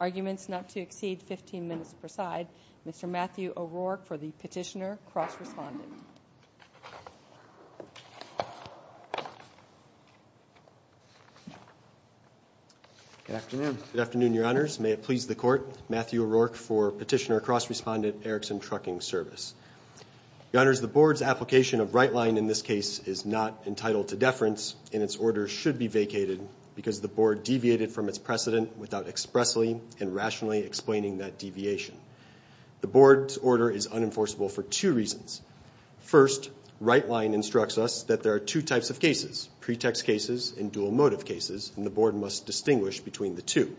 Arguments not to exceed 15 minutes preside. Mr. Matthew O'Rourke for the petitioner, cross-respondent. Good afternoon. Good afternoon, your honors. May it please the court. Matthew O'Rourke for petitioner, cross-respondent, Erickson Trucking Service. Your honors, the board's application of right line in this case is not entitled to deference and its order should be vacated because the board deviated from its precedent without expressly and rationally explaining that deviation. The board's order is unenforceable for two reasons. First, right line instructs us that there are two types of cases, pretext cases and dual motive cases, and the board must distinguish between the two.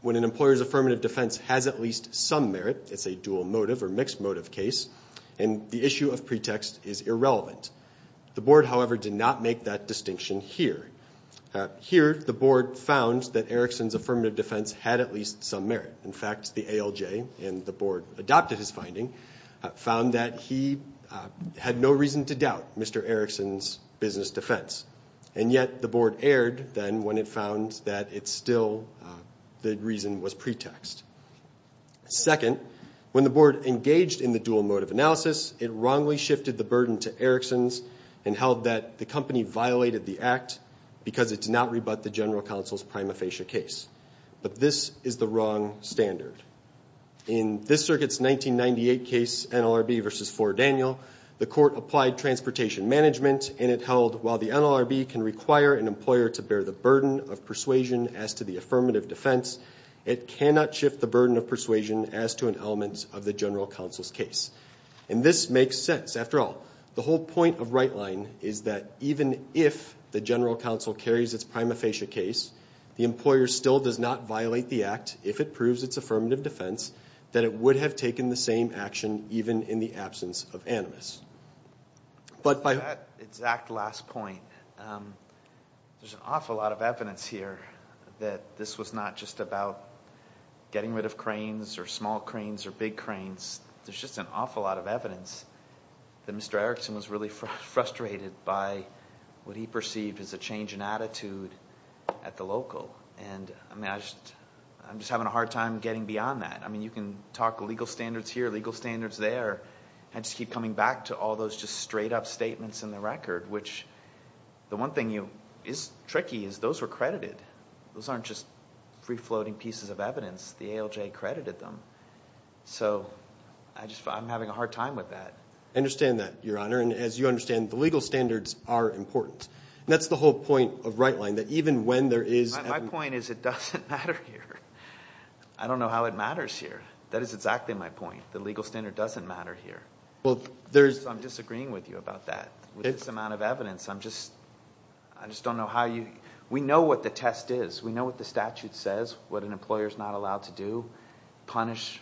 When an employer's affirmative defense has at least some merit, it's a dual motive or mixed motive case, and the issue of pretext is irrelevant. The board, however, did not make that distinction here. Here, the board found that Erickson's affirmative defense had at least some merit. In fact, the ALJ and the board adopted his finding, found that he had no reason to doubt Mr. Erickson's business defense, and yet the board erred then when it found that it's still the reason was pretext. Second, when the board engaged in the dual motive analysis, it wrongly shifted the burden to Erickson's and held that the company violated the act because it did not rebut the general counsel's prima facie case, but this is the wrong standard. In this circuit's 1998 case, NLRB v. 4 Daniel, the court applied transportation management and it held while the NLRB can require an employer to bear the burden of persuasion as to the affirmative defense, it cannot shift the burden of persuasion as to an element of the general counsel's case. And this makes sense. After all, the whole point of right line is that even if the general counsel carries its prima facie case, the employer still does not violate the act if it proves its affirmative defense that it would have taken the same action even in the absence of animus. But by that exact last point, there's an awful lot of evidence here that this was not just about getting rid of cranes or small cranes or big cranes. There's just an awful lot of evidence that Mr. Erickson was really frustrated by what he perceived as a change in attitude at the local. And I'm just having a hard time getting beyond that. I mean, you can talk legal standards here, legal standards there. I just keep coming back to all those just straight-up statements in the record, which the one thing is tricky is those were credited. Those aren't just free-floating pieces of evidence. The ALJ credited them. So I'm having a hard time with that. I understand that, Your Honor. And as you understand, the legal standards are important. That's the whole point of right-line, that even when there is evidence. My point is it doesn't matter here. I don't know how it matters here. That is exactly my point. The legal standard doesn't matter here. I'm disagreeing with you about that. With this amount of evidence, I'm just – I just don't know how you – we know what the test is. We know what the statute says, what an employer is not allowed to do, punish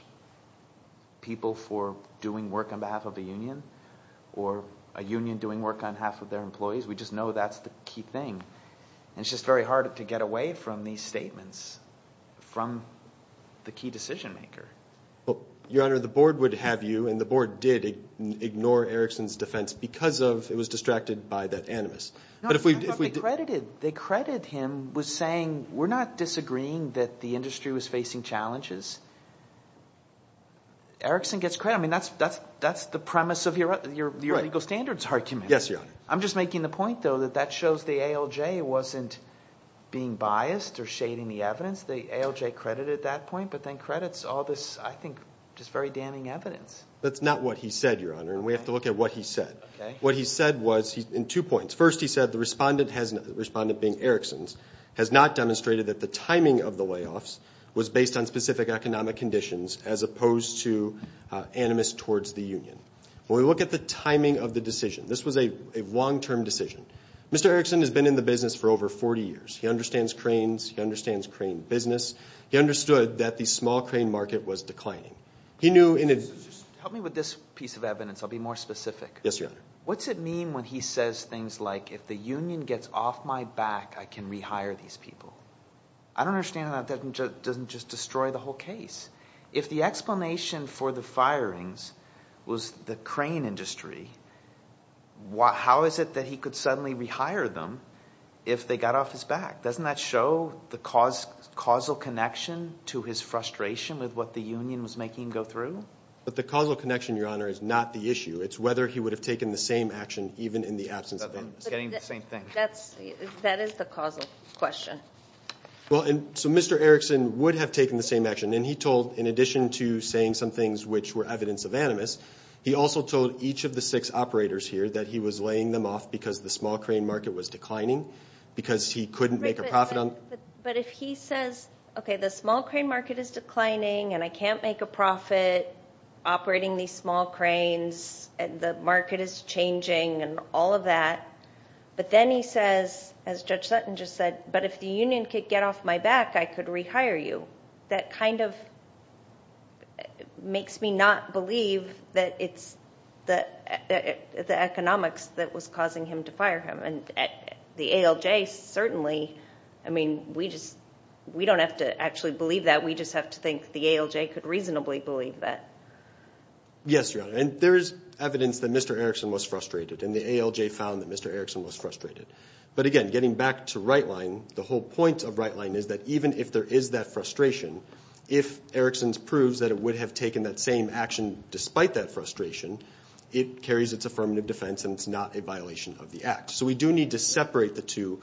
people for doing work on behalf of a union or a union doing work on behalf of their employees. We just know that's the key thing. And it's just very hard to get away from these statements, from the key decision-maker. Well, Your Honor, the board would have you, and the board did, ignore Erickson's defense because of it was distracted by that animus. But if we – No, that's not what they credited. They credited him with saying we're not disagreeing that the industry was facing challenges. Erickson gets credit. I mean that's the premise of your legal standards argument. Yes, Your Honor. I'm just making the point, though, that that shows the ALJ wasn't being biased or shading the evidence. The ALJ credited that point but then credits all this, I think, just very damning evidence. That's not what he said, Your Honor, and we have to look at what he said. What he said was – in two points. First, he said the respondent has – the respondent being Erickson's – has not demonstrated that the timing of the layoffs was based on specific economic conditions as opposed to animus towards the union. When we look at the timing of the decision, this was a long-term decision. Mr. Erickson has been in the business for over 40 years. He understands cranes. He understands crane business. He understood that the small crane market was declining. He knew – Help me with this piece of evidence. I'll be more specific. Yes, Your Honor. What's it mean when he says things like if the union gets off my back, I can rehire these people? I don't understand how that doesn't just destroy the whole case. If the explanation for the firings was the crane industry, how is it that he could suddenly rehire them if they got off his back? Doesn't that show the causal connection to his frustration with what the union was making him go through? But the causal connection, Your Honor, is not the issue. It's whether he would have taken the same action even in the absence of it. I'm getting the same thing. That is the causal question. So Mr. Erickson would have taken the same action, and he told, in addition to saying some things which were evidence of animus, he also told each of the six operators here that he was laying them off because the small crane market was declining, because he couldn't make a profit on them. But if he says, okay, the small crane market is declining, and I can't make a profit operating these small cranes, and the market is changing and all of that, but then he says, as Judge Sutton just said, but if the union could get off my back, I could rehire you. That kind of makes me not believe that it's the economics that was causing him to fire him. And the ALJ certainly, I mean, we don't have to actually believe that. We just have to think the ALJ could reasonably believe that. Yes, Your Honor. And there is evidence that Mr. Erickson was frustrated, and the ALJ found that Mr. Erickson was frustrated. But, again, getting back to right line, the whole point of right line is that even if there is that frustration, if Erickson proves that it would have taken that same action despite that frustration, it carries its affirmative defense and it's not a violation of the act. So we do need to separate the two.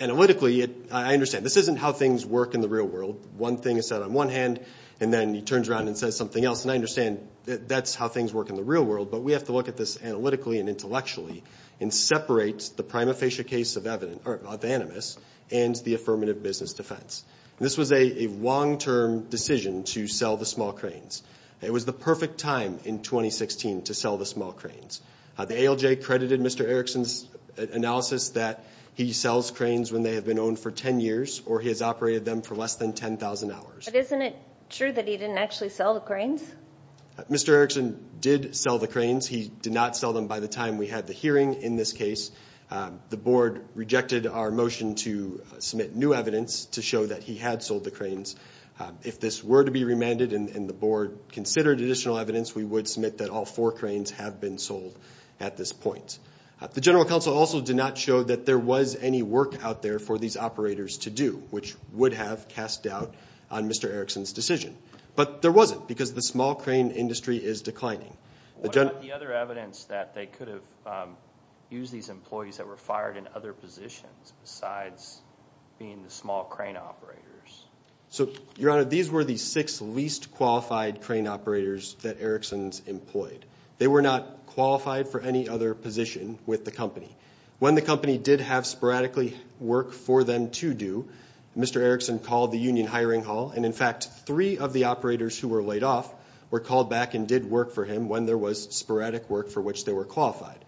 Analytically, I understand, this isn't how things work in the real world. One thing is said on one hand, and then he turns around and says something else, and I understand that's how things work in the real world, but we have to look at this analytically and intellectually and separate the prima facie case of Animas and the affirmative business defense. This was a long-term decision to sell the small cranes. It was the perfect time in 2016 to sell the small cranes. The ALJ credited Mr. Erickson's analysis that he sells cranes when they have been owned for 10 years or he has operated them for less than 10,000 hours. But isn't it true that he didn't actually sell the cranes? Mr. Erickson did sell the cranes. He did not sell them by the time we had the hearing in this case. The board rejected our motion to submit new evidence to show that he had sold the cranes. If this were to be remanded and the board considered additional evidence, we would submit that all four cranes have been sold at this point. The general counsel also did not show that there was any work out there for these operators to do, which would have cast doubt on Mr. Erickson's decision. But there wasn't because the small crane industry is declining. What about the other evidence that they could have used these employees that were fired in other positions besides being the small crane operators? Your Honor, these were the six least qualified crane operators that Erickson's employed. They were not qualified for any other position with the company. When the company did have sporadically work for them to do, Mr. Erickson called the union hiring hall, and, in fact, three of the operators who were laid off were called back and did work for him when there was sporadic work for which they were qualified.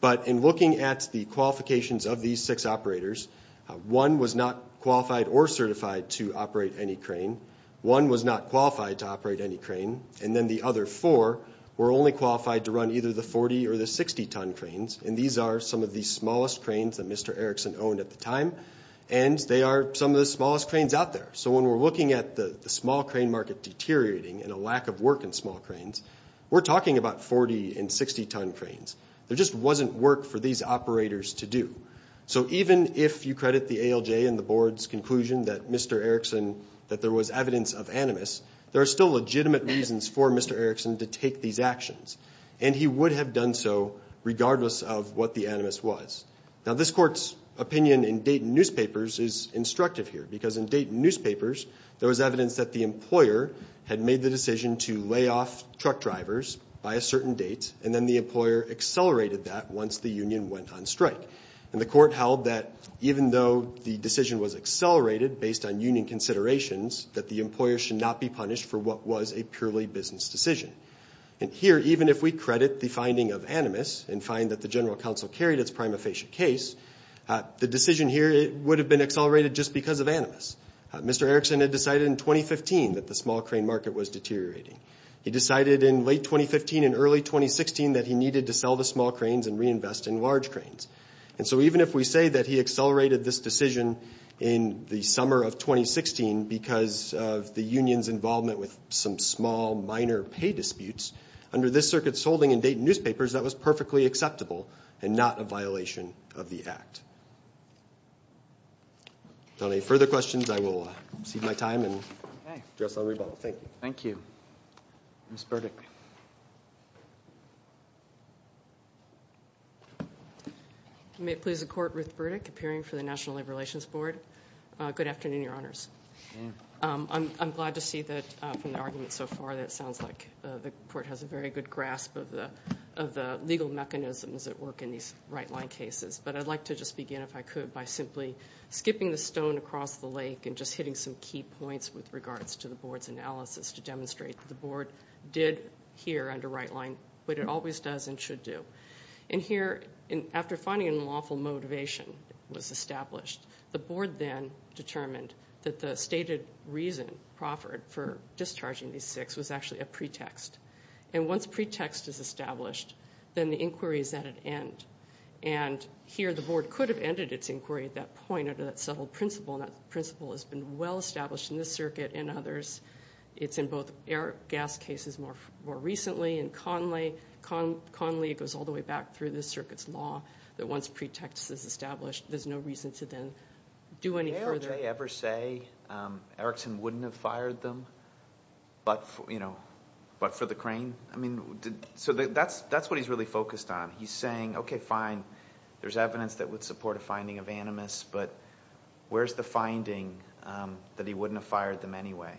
But in looking at the qualifications of these six operators, one was not qualified or certified to operate any crane, one was not qualified to operate any crane, and then the other four were only qualified to run either the 40 or the 60-ton cranes, and these are some of the smallest cranes that Mr. Erickson owned at the time, and they are some of the smallest cranes out there. So when we're looking at the small crane market deteriorating and a lack of work in small cranes, we're talking about 40- and 60-ton cranes. There just wasn't work for these operators to do. So even if you credit the ALJ and the Board's conclusion that Mr. Erickson, that there was evidence of animus, there are still legitimate reasons for Mr. Erickson to take these actions, and he would have done so regardless of what the animus was. Now, this Court's opinion in Dayton newspapers is instructive here because in Dayton newspapers there was evidence that the employer had made the decision to lay off truck drivers by a certain date and then the employer accelerated that once the union went on strike. And the Court held that even though the decision was accelerated based on union considerations, that the employer should not be punished for what was a purely business decision. And here, even if we credit the finding of animus and find that the General Counsel carried its prima facie case, the decision here would have been accelerated just because of animus. Mr. Erickson had decided in 2015 that the small crane market was deteriorating. He decided in late 2015 and early 2016 that he needed to sell the small cranes and reinvest in large cranes. And so even if we say that he accelerated this decision in the summer of 2016 because of the union's involvement with some small, minor pay disputes, under this Circuit's holding in Dayton newspapers that was perfectly acceptable and not a violation of the Act. If there are no further questions, I will cede my time and address on rebuttal. Thank you. Thank you. Ms. Burdick. You may please accord Ruth Burdick, appearing for the National Labor Relations Board. Good afternoon, Your Honors. I'm glad to see that, from the arguments so far, that it sounds like the Court has a very good grasp of the legal mechanisms that work in these right-line cases. But I'd like to just begin, if I could, by simply skipping the stone across the lake and just hitting some key points with regards to the Board's analysis to demonstrate that the Board did hear under right-line what it always does and should do. And here, after finding an unlawful motivation was established, the Board then determined that the stated reason proffered for discharging these six was actually a pretext. And once a pretext is established, then the inquiry is at an end. And here the Board could have ended its inquiry at that point under that subtle principle, and that principle has been well established in this Circuit and others. It's in both Eric Gass' cases more recently, and Conley, it goes all the way back through this Circuit's law, that once a pretext is established, there's no reason to then do any further. Did Hale Ray ever say Erickson wouldn't have fired them but for the crane? I mean, so that's what he's really focused on. He's saying, okay, fine, there's evidence that would support a finding of animus, but where's the finding that he wouldn't have fired them anyway?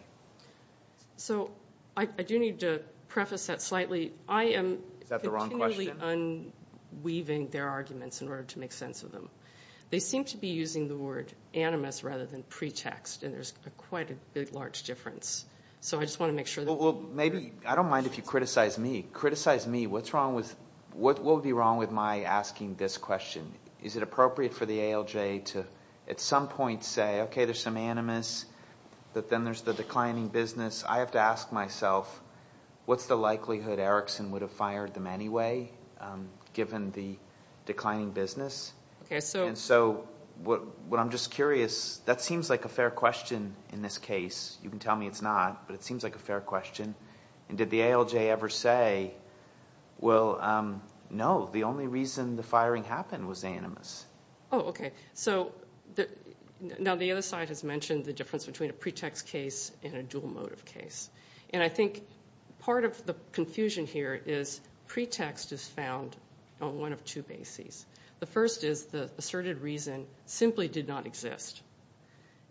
So I do need to preface that slightly. I am continually unweaving their arguments in order to make sense of them. They seem to be using the word animus rather than pretext, and there's quite a big, large difference. So I just want to make sure that we're clear. Well, maybe I don't mind if you criticize me. Criticize me. What will be wrong with my asking this question? Is it appropriate for the ALJ to at some point say, okay, there's some animus, but then there's the declining business? I have to ask myself, what's the likelihood Erickson would have fired them anyway, given the declining business? And so what I'm just curious, that seems like a fair question in this case. You can tell me it's not, but it seems like a fair question. And did the ALJ ever say, well, no, the only reason the firing happened was animus? Oh, okay. So now the other side has mentioned the difference between a pretext case and a dual motive case. And I think part of the confusion here is pretext is found on one of two bases. The first is the asserted reason simply did not exist.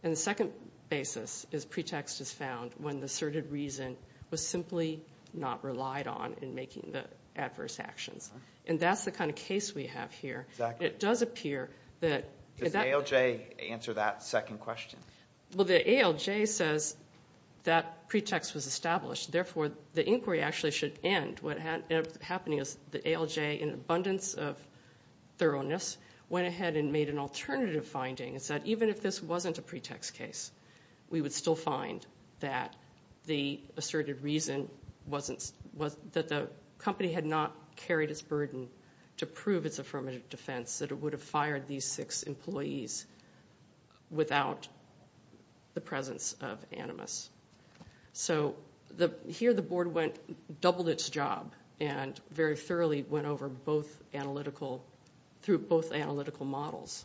And the second basis is pretext is found when the asserted reason was simply not relied on in making the adverse actions. And that's the kind of case we have here. It does appear that the ALJ says that pretext was established, therefore the inquiry actually should end. What ended up happening is the ALJ, in abundance of thoroughness, went ahead and made an alternative finding and said even if this wasn't a pretext case, we would still find that the asserted reason that the company had not carried its burden to prove its affirmative defense that it would have fired these six employees without the presence of animus. So here the board doubled its job and very thoroughly went over through both analytical models.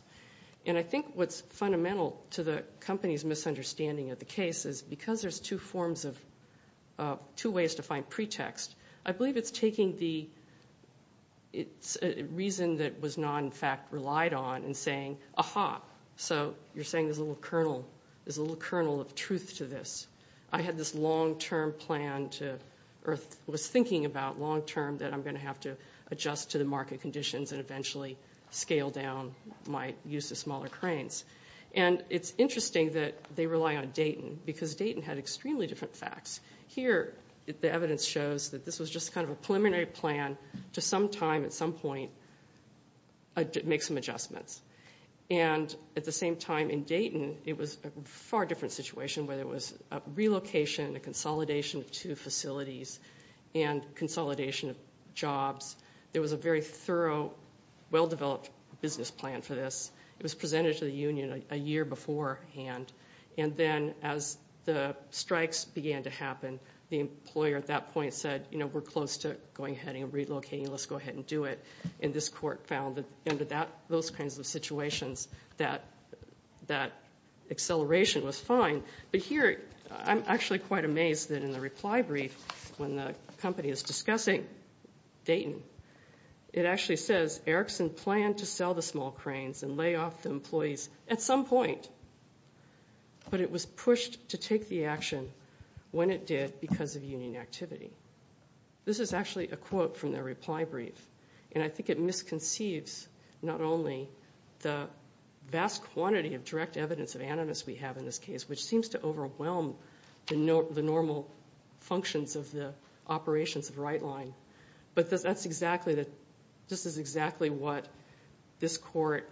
And I think what's fundamental to the company's misunderstanding of the case is because there's two ways to find pretext, I believe it's a reason that was not, in fact, relied on and saying, aha, so you're saying there's a little kernel of truth to this. I had this long-term plan or was thinking about long-term that I'm going to have to adjust to the market conditions and eventually scale down my use of smaller cranes. And it's interesting that they rely on Dayton because Dayton had extremely different facts. Here the evidence shows that this was just kind of a preliminary plan to sometime at some point make some adjustments. And at the same time in Dayton it was a far different situation where there was a relocation, a consolidation of two facilities and consolidation of jobs. There was a very thorough, well-developed business plan for this. It was presented to the union a year beforehand. And then as the strikes began to happen, the employer at that point said, you know, we're close to going ahead and relocating. Let's go ahead and do it. And this court found that under those kinds of situations that acceleration was fine. But here I'm actually quite amazed that in the reply brief when the company is discussing Dayton, it actually says Erickson planned to sell the small cranes and lay off the employees at some point. But it was pushed to take the action when it did because of union activity. This is actually a quote from their reply brief. And I think it misconceives not only the vast quantity of direct evidence of animus we have in this case, which seems to overwhelm the normal functions of the operations of the right line, but this is exactly what this court,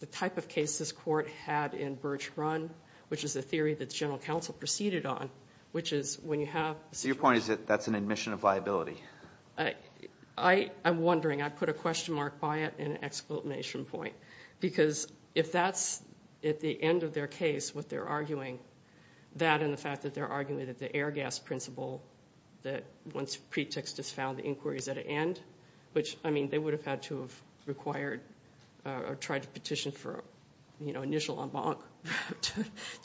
the type of case this court had in Birch Run, which is a theory that the general counsel proceeded on, which is when you have a situation. So your point is that that's an admission of viability? I'm wondering. I put a question mark by it and an exclamation point because if that's at the end of their case what they're arguing, that and the fact that they're arguing that the air gas principle that once pretext is found the inquiry is at an end, which I mean they would have had to have required or tried to petition for initial embankment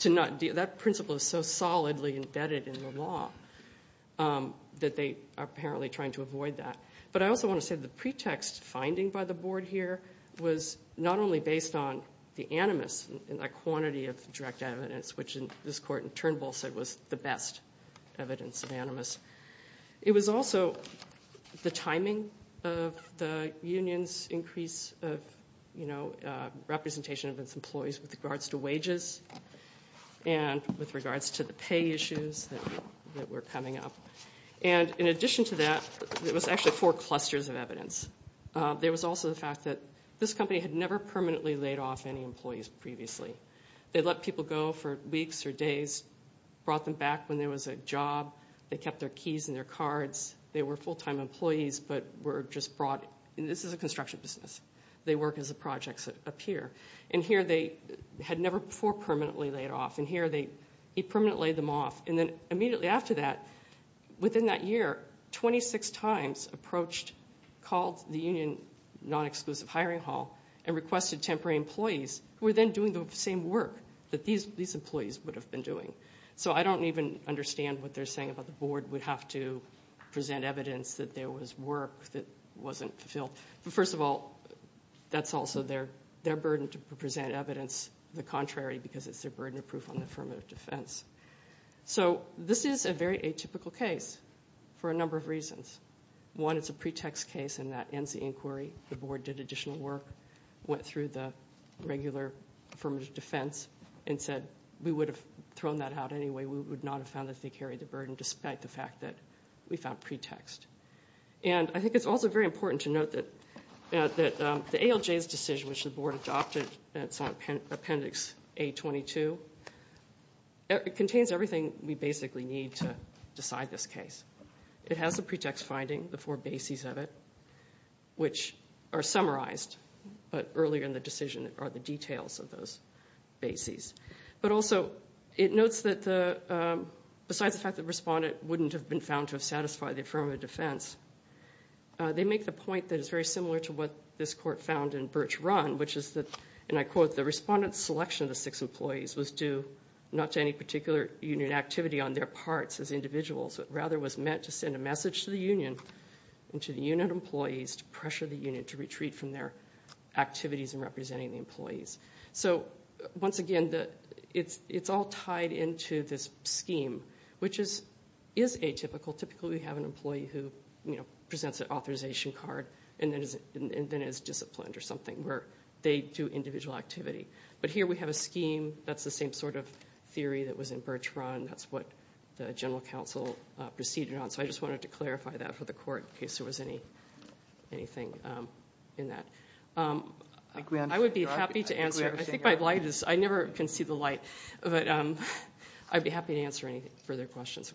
to not deal. That principle is so solidly embedded in the law that they are apparently trying to avoid that. But I also want to say the pretext finding by the board here was not only based on the animus and the quantity of direct evidence, which this court in Turnbull said was the best evidence of animus. It was also the timing of the union's increase of representation of its employees with regards to wages and with regards to the pay issues that were coming up. And in addition to that, there was actually four clusters of evidence. There was also the fact that this company had never permanently laid off any employees previously. They let people go for weeks or days, brought them back when there was a job. They kept their keys and their cards. They were full-time employees but were just brought in. This is a construction business. They work as a project up here. And here they had never before permanently laid off. And here he permanently laid them off. And then immediately after that, within that year, 26 times approached, called the union non-exclusive hiring hall and requested temporary employees who were then doing the same work that these employees would have been doing. So I don't even understand what they're saying about the board would have to present evidence that there was work that wasn't fulfilled. But first of all, that's also their burden to present evidence, the contrary, because it's their burden of proof on the affirmative defense. So this is a very atypical case for a number of reasons. One, it's a pretext case, and that ends the inquiry. The board did additional work, went through the regular affirmative defense, and said we would have thrown that out anyway. We would not have found that they carried the burden, despite the fact that we found pretext. And I think it's also very important to note that the ALJ's decision, which the board adopted at Appendix A22, contains everything we basically need to decide this case. It has the pretext finding, the four bases of it, which are summarized, but earlier in the decision are the details of those bases. But also it notes that besides the fact that the respondent wouldn't have been found to have satisfied the affirmative defense, they make the point that is very similar to what this court found in Birch Run, which is that, and I quote, the respondent's selection of the six employees was due not to any particular union activity on their parts as individuals, but rather was meant to send a message to the union and to the union employees to pressure the union to retreat from their activities in representing the employees. So once again, it's all tied into this scheme, which is atypical. Typically we have an employee who presents an authorization card and then is disciplined or something where they do individual activity. But here we have a scheme that's the same sort of theory that was in Birch Run. That's what the general counsel proceeded on. So I just wanted to clarify that for the court in case there was anything in that. I would be happy to answer. I think my light is, I never can see the light. But I'd be happy to answer any further questions.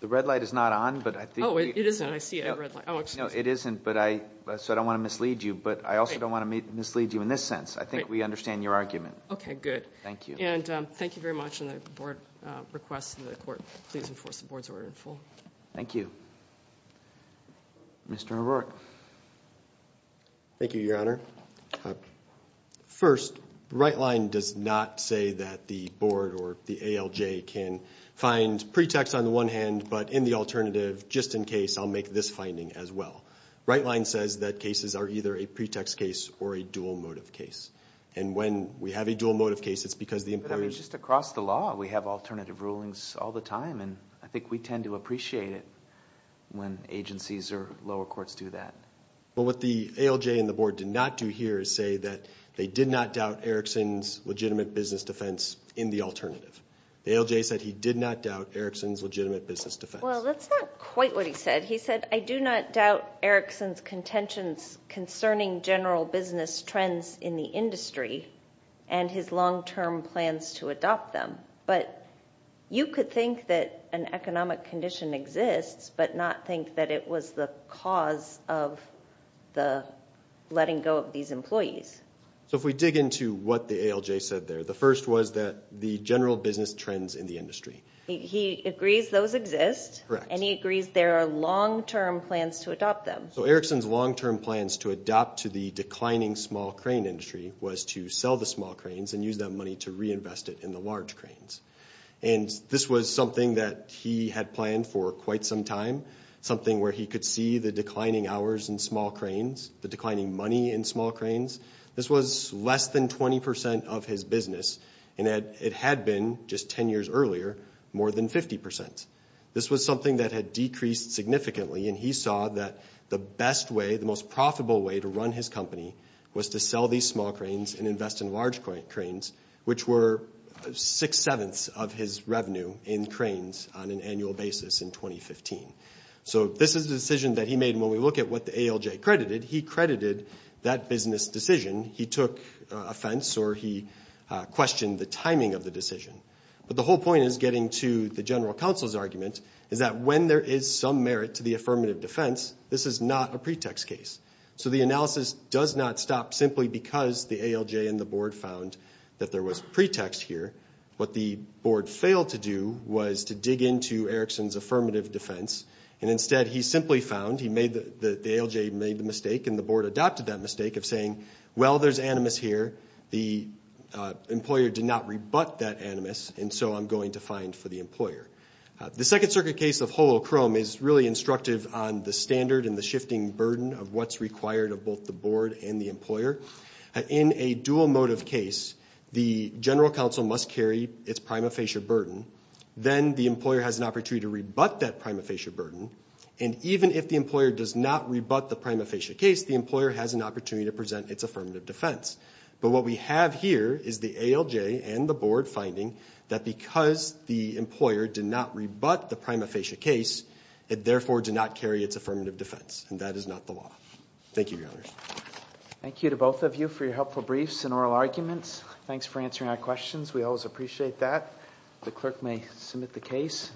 The red light is not on. Oh, it isn't. I see a red light. Oh, excuse me. No, it isn't, so I don't want to mislead you. But I also don't want to mislead you in this sense. I think we understand your argument. Okay, good. Thank you. And thank you very much. And the board requests that the court please enforce the board's order in full. Thank you. Mr. O'Rourke. Thank you, Your Honor. First, the right line does not say that the board or the ALJ can find pretext on the one hand, but in the alternative, just in case, I'll make this finding as well. Right line says that cases are either a pretext case or a dual motive case. And when we have a dual motive case, it's because the employer's ---- I mean, just across the law, we have alternative rulings all the time, and I think we tend to appreciate it when agencies or lower courts do that. Well, what the ALJ and the board did not do here is say that they did not doubt Erickson's legitimate business defense in the alternative. The ALJ said he did not doubt Erickson's legitimate business defense. Well, that's not quite what he said. He said, I do not doubt Erickson's contentions concerning general business trends in the industry and his long-term plans to adopt them. But you could think that an economic condition exists but not think that it was the cause of the letting go of these employees. So if we dig into what the ALJ said there, the first was that the general business trends in the industry. He agrees those exist. Correct. And he agrees there are long-term plans to adopt them. So Erickson's long-term plans to adopt to the declining small crane industry was to sell the small cranes and use that money to reinvest it in the large cranes. And this was something that he had planned for quite some time, something where he could see the declining hours in small cranes, the declining money in small cranes. This was less than 20% of his business, and it had been, just 10 years earlier, more than 50%. This was something that had decreased significantly, and he saw that the best way, the most profitable way to run his company, was to sell these small cranes and invest in large cranes, which were six-sevenths of his revenue in cranes on an annual basis in 2015. So this is a decision that he made, and when we look at what the ALJ credited, he credited that business decision. He took offense or he questioned the timing of the decision. But the whole point is, getting to the general counsel's argument, is that when there is some merit to the affirmative defense, this is not a pretext case. So the analysis does not stop simply because the ALJ and the board found that there was pretext here. What the board failed to do was to dig into Erickson's affirmative defense, and instead he simply found he made the ALJ made the mistake, and the board adopted that mistake of saying, well, there's animus here. The employer did not rebut that animus, and so I'm going to find for the employer. The Second Circuit case of Holochrome is really instructive on the standard and the shifting burden of what's required of both the board and the employer. In a dual motive case, the general counsel must carry its prima facie burden. Then the employer has an opportunity to rebut that prima facie burden, and even if the employer does not rebut the prima facie case, the employer has an opportunity to present its affirmative defense. But what we have here is the ALJ and the board finding that because the employer did not rebut the prima facie case, it therefore did not carry its affirmative defense, and that is not the law. Thank you, Your Honors. Thank you to both of you for your helpful briefs and oral arguments. Thanks for answering our questions. We always appreciate that. The clerk may submit the case.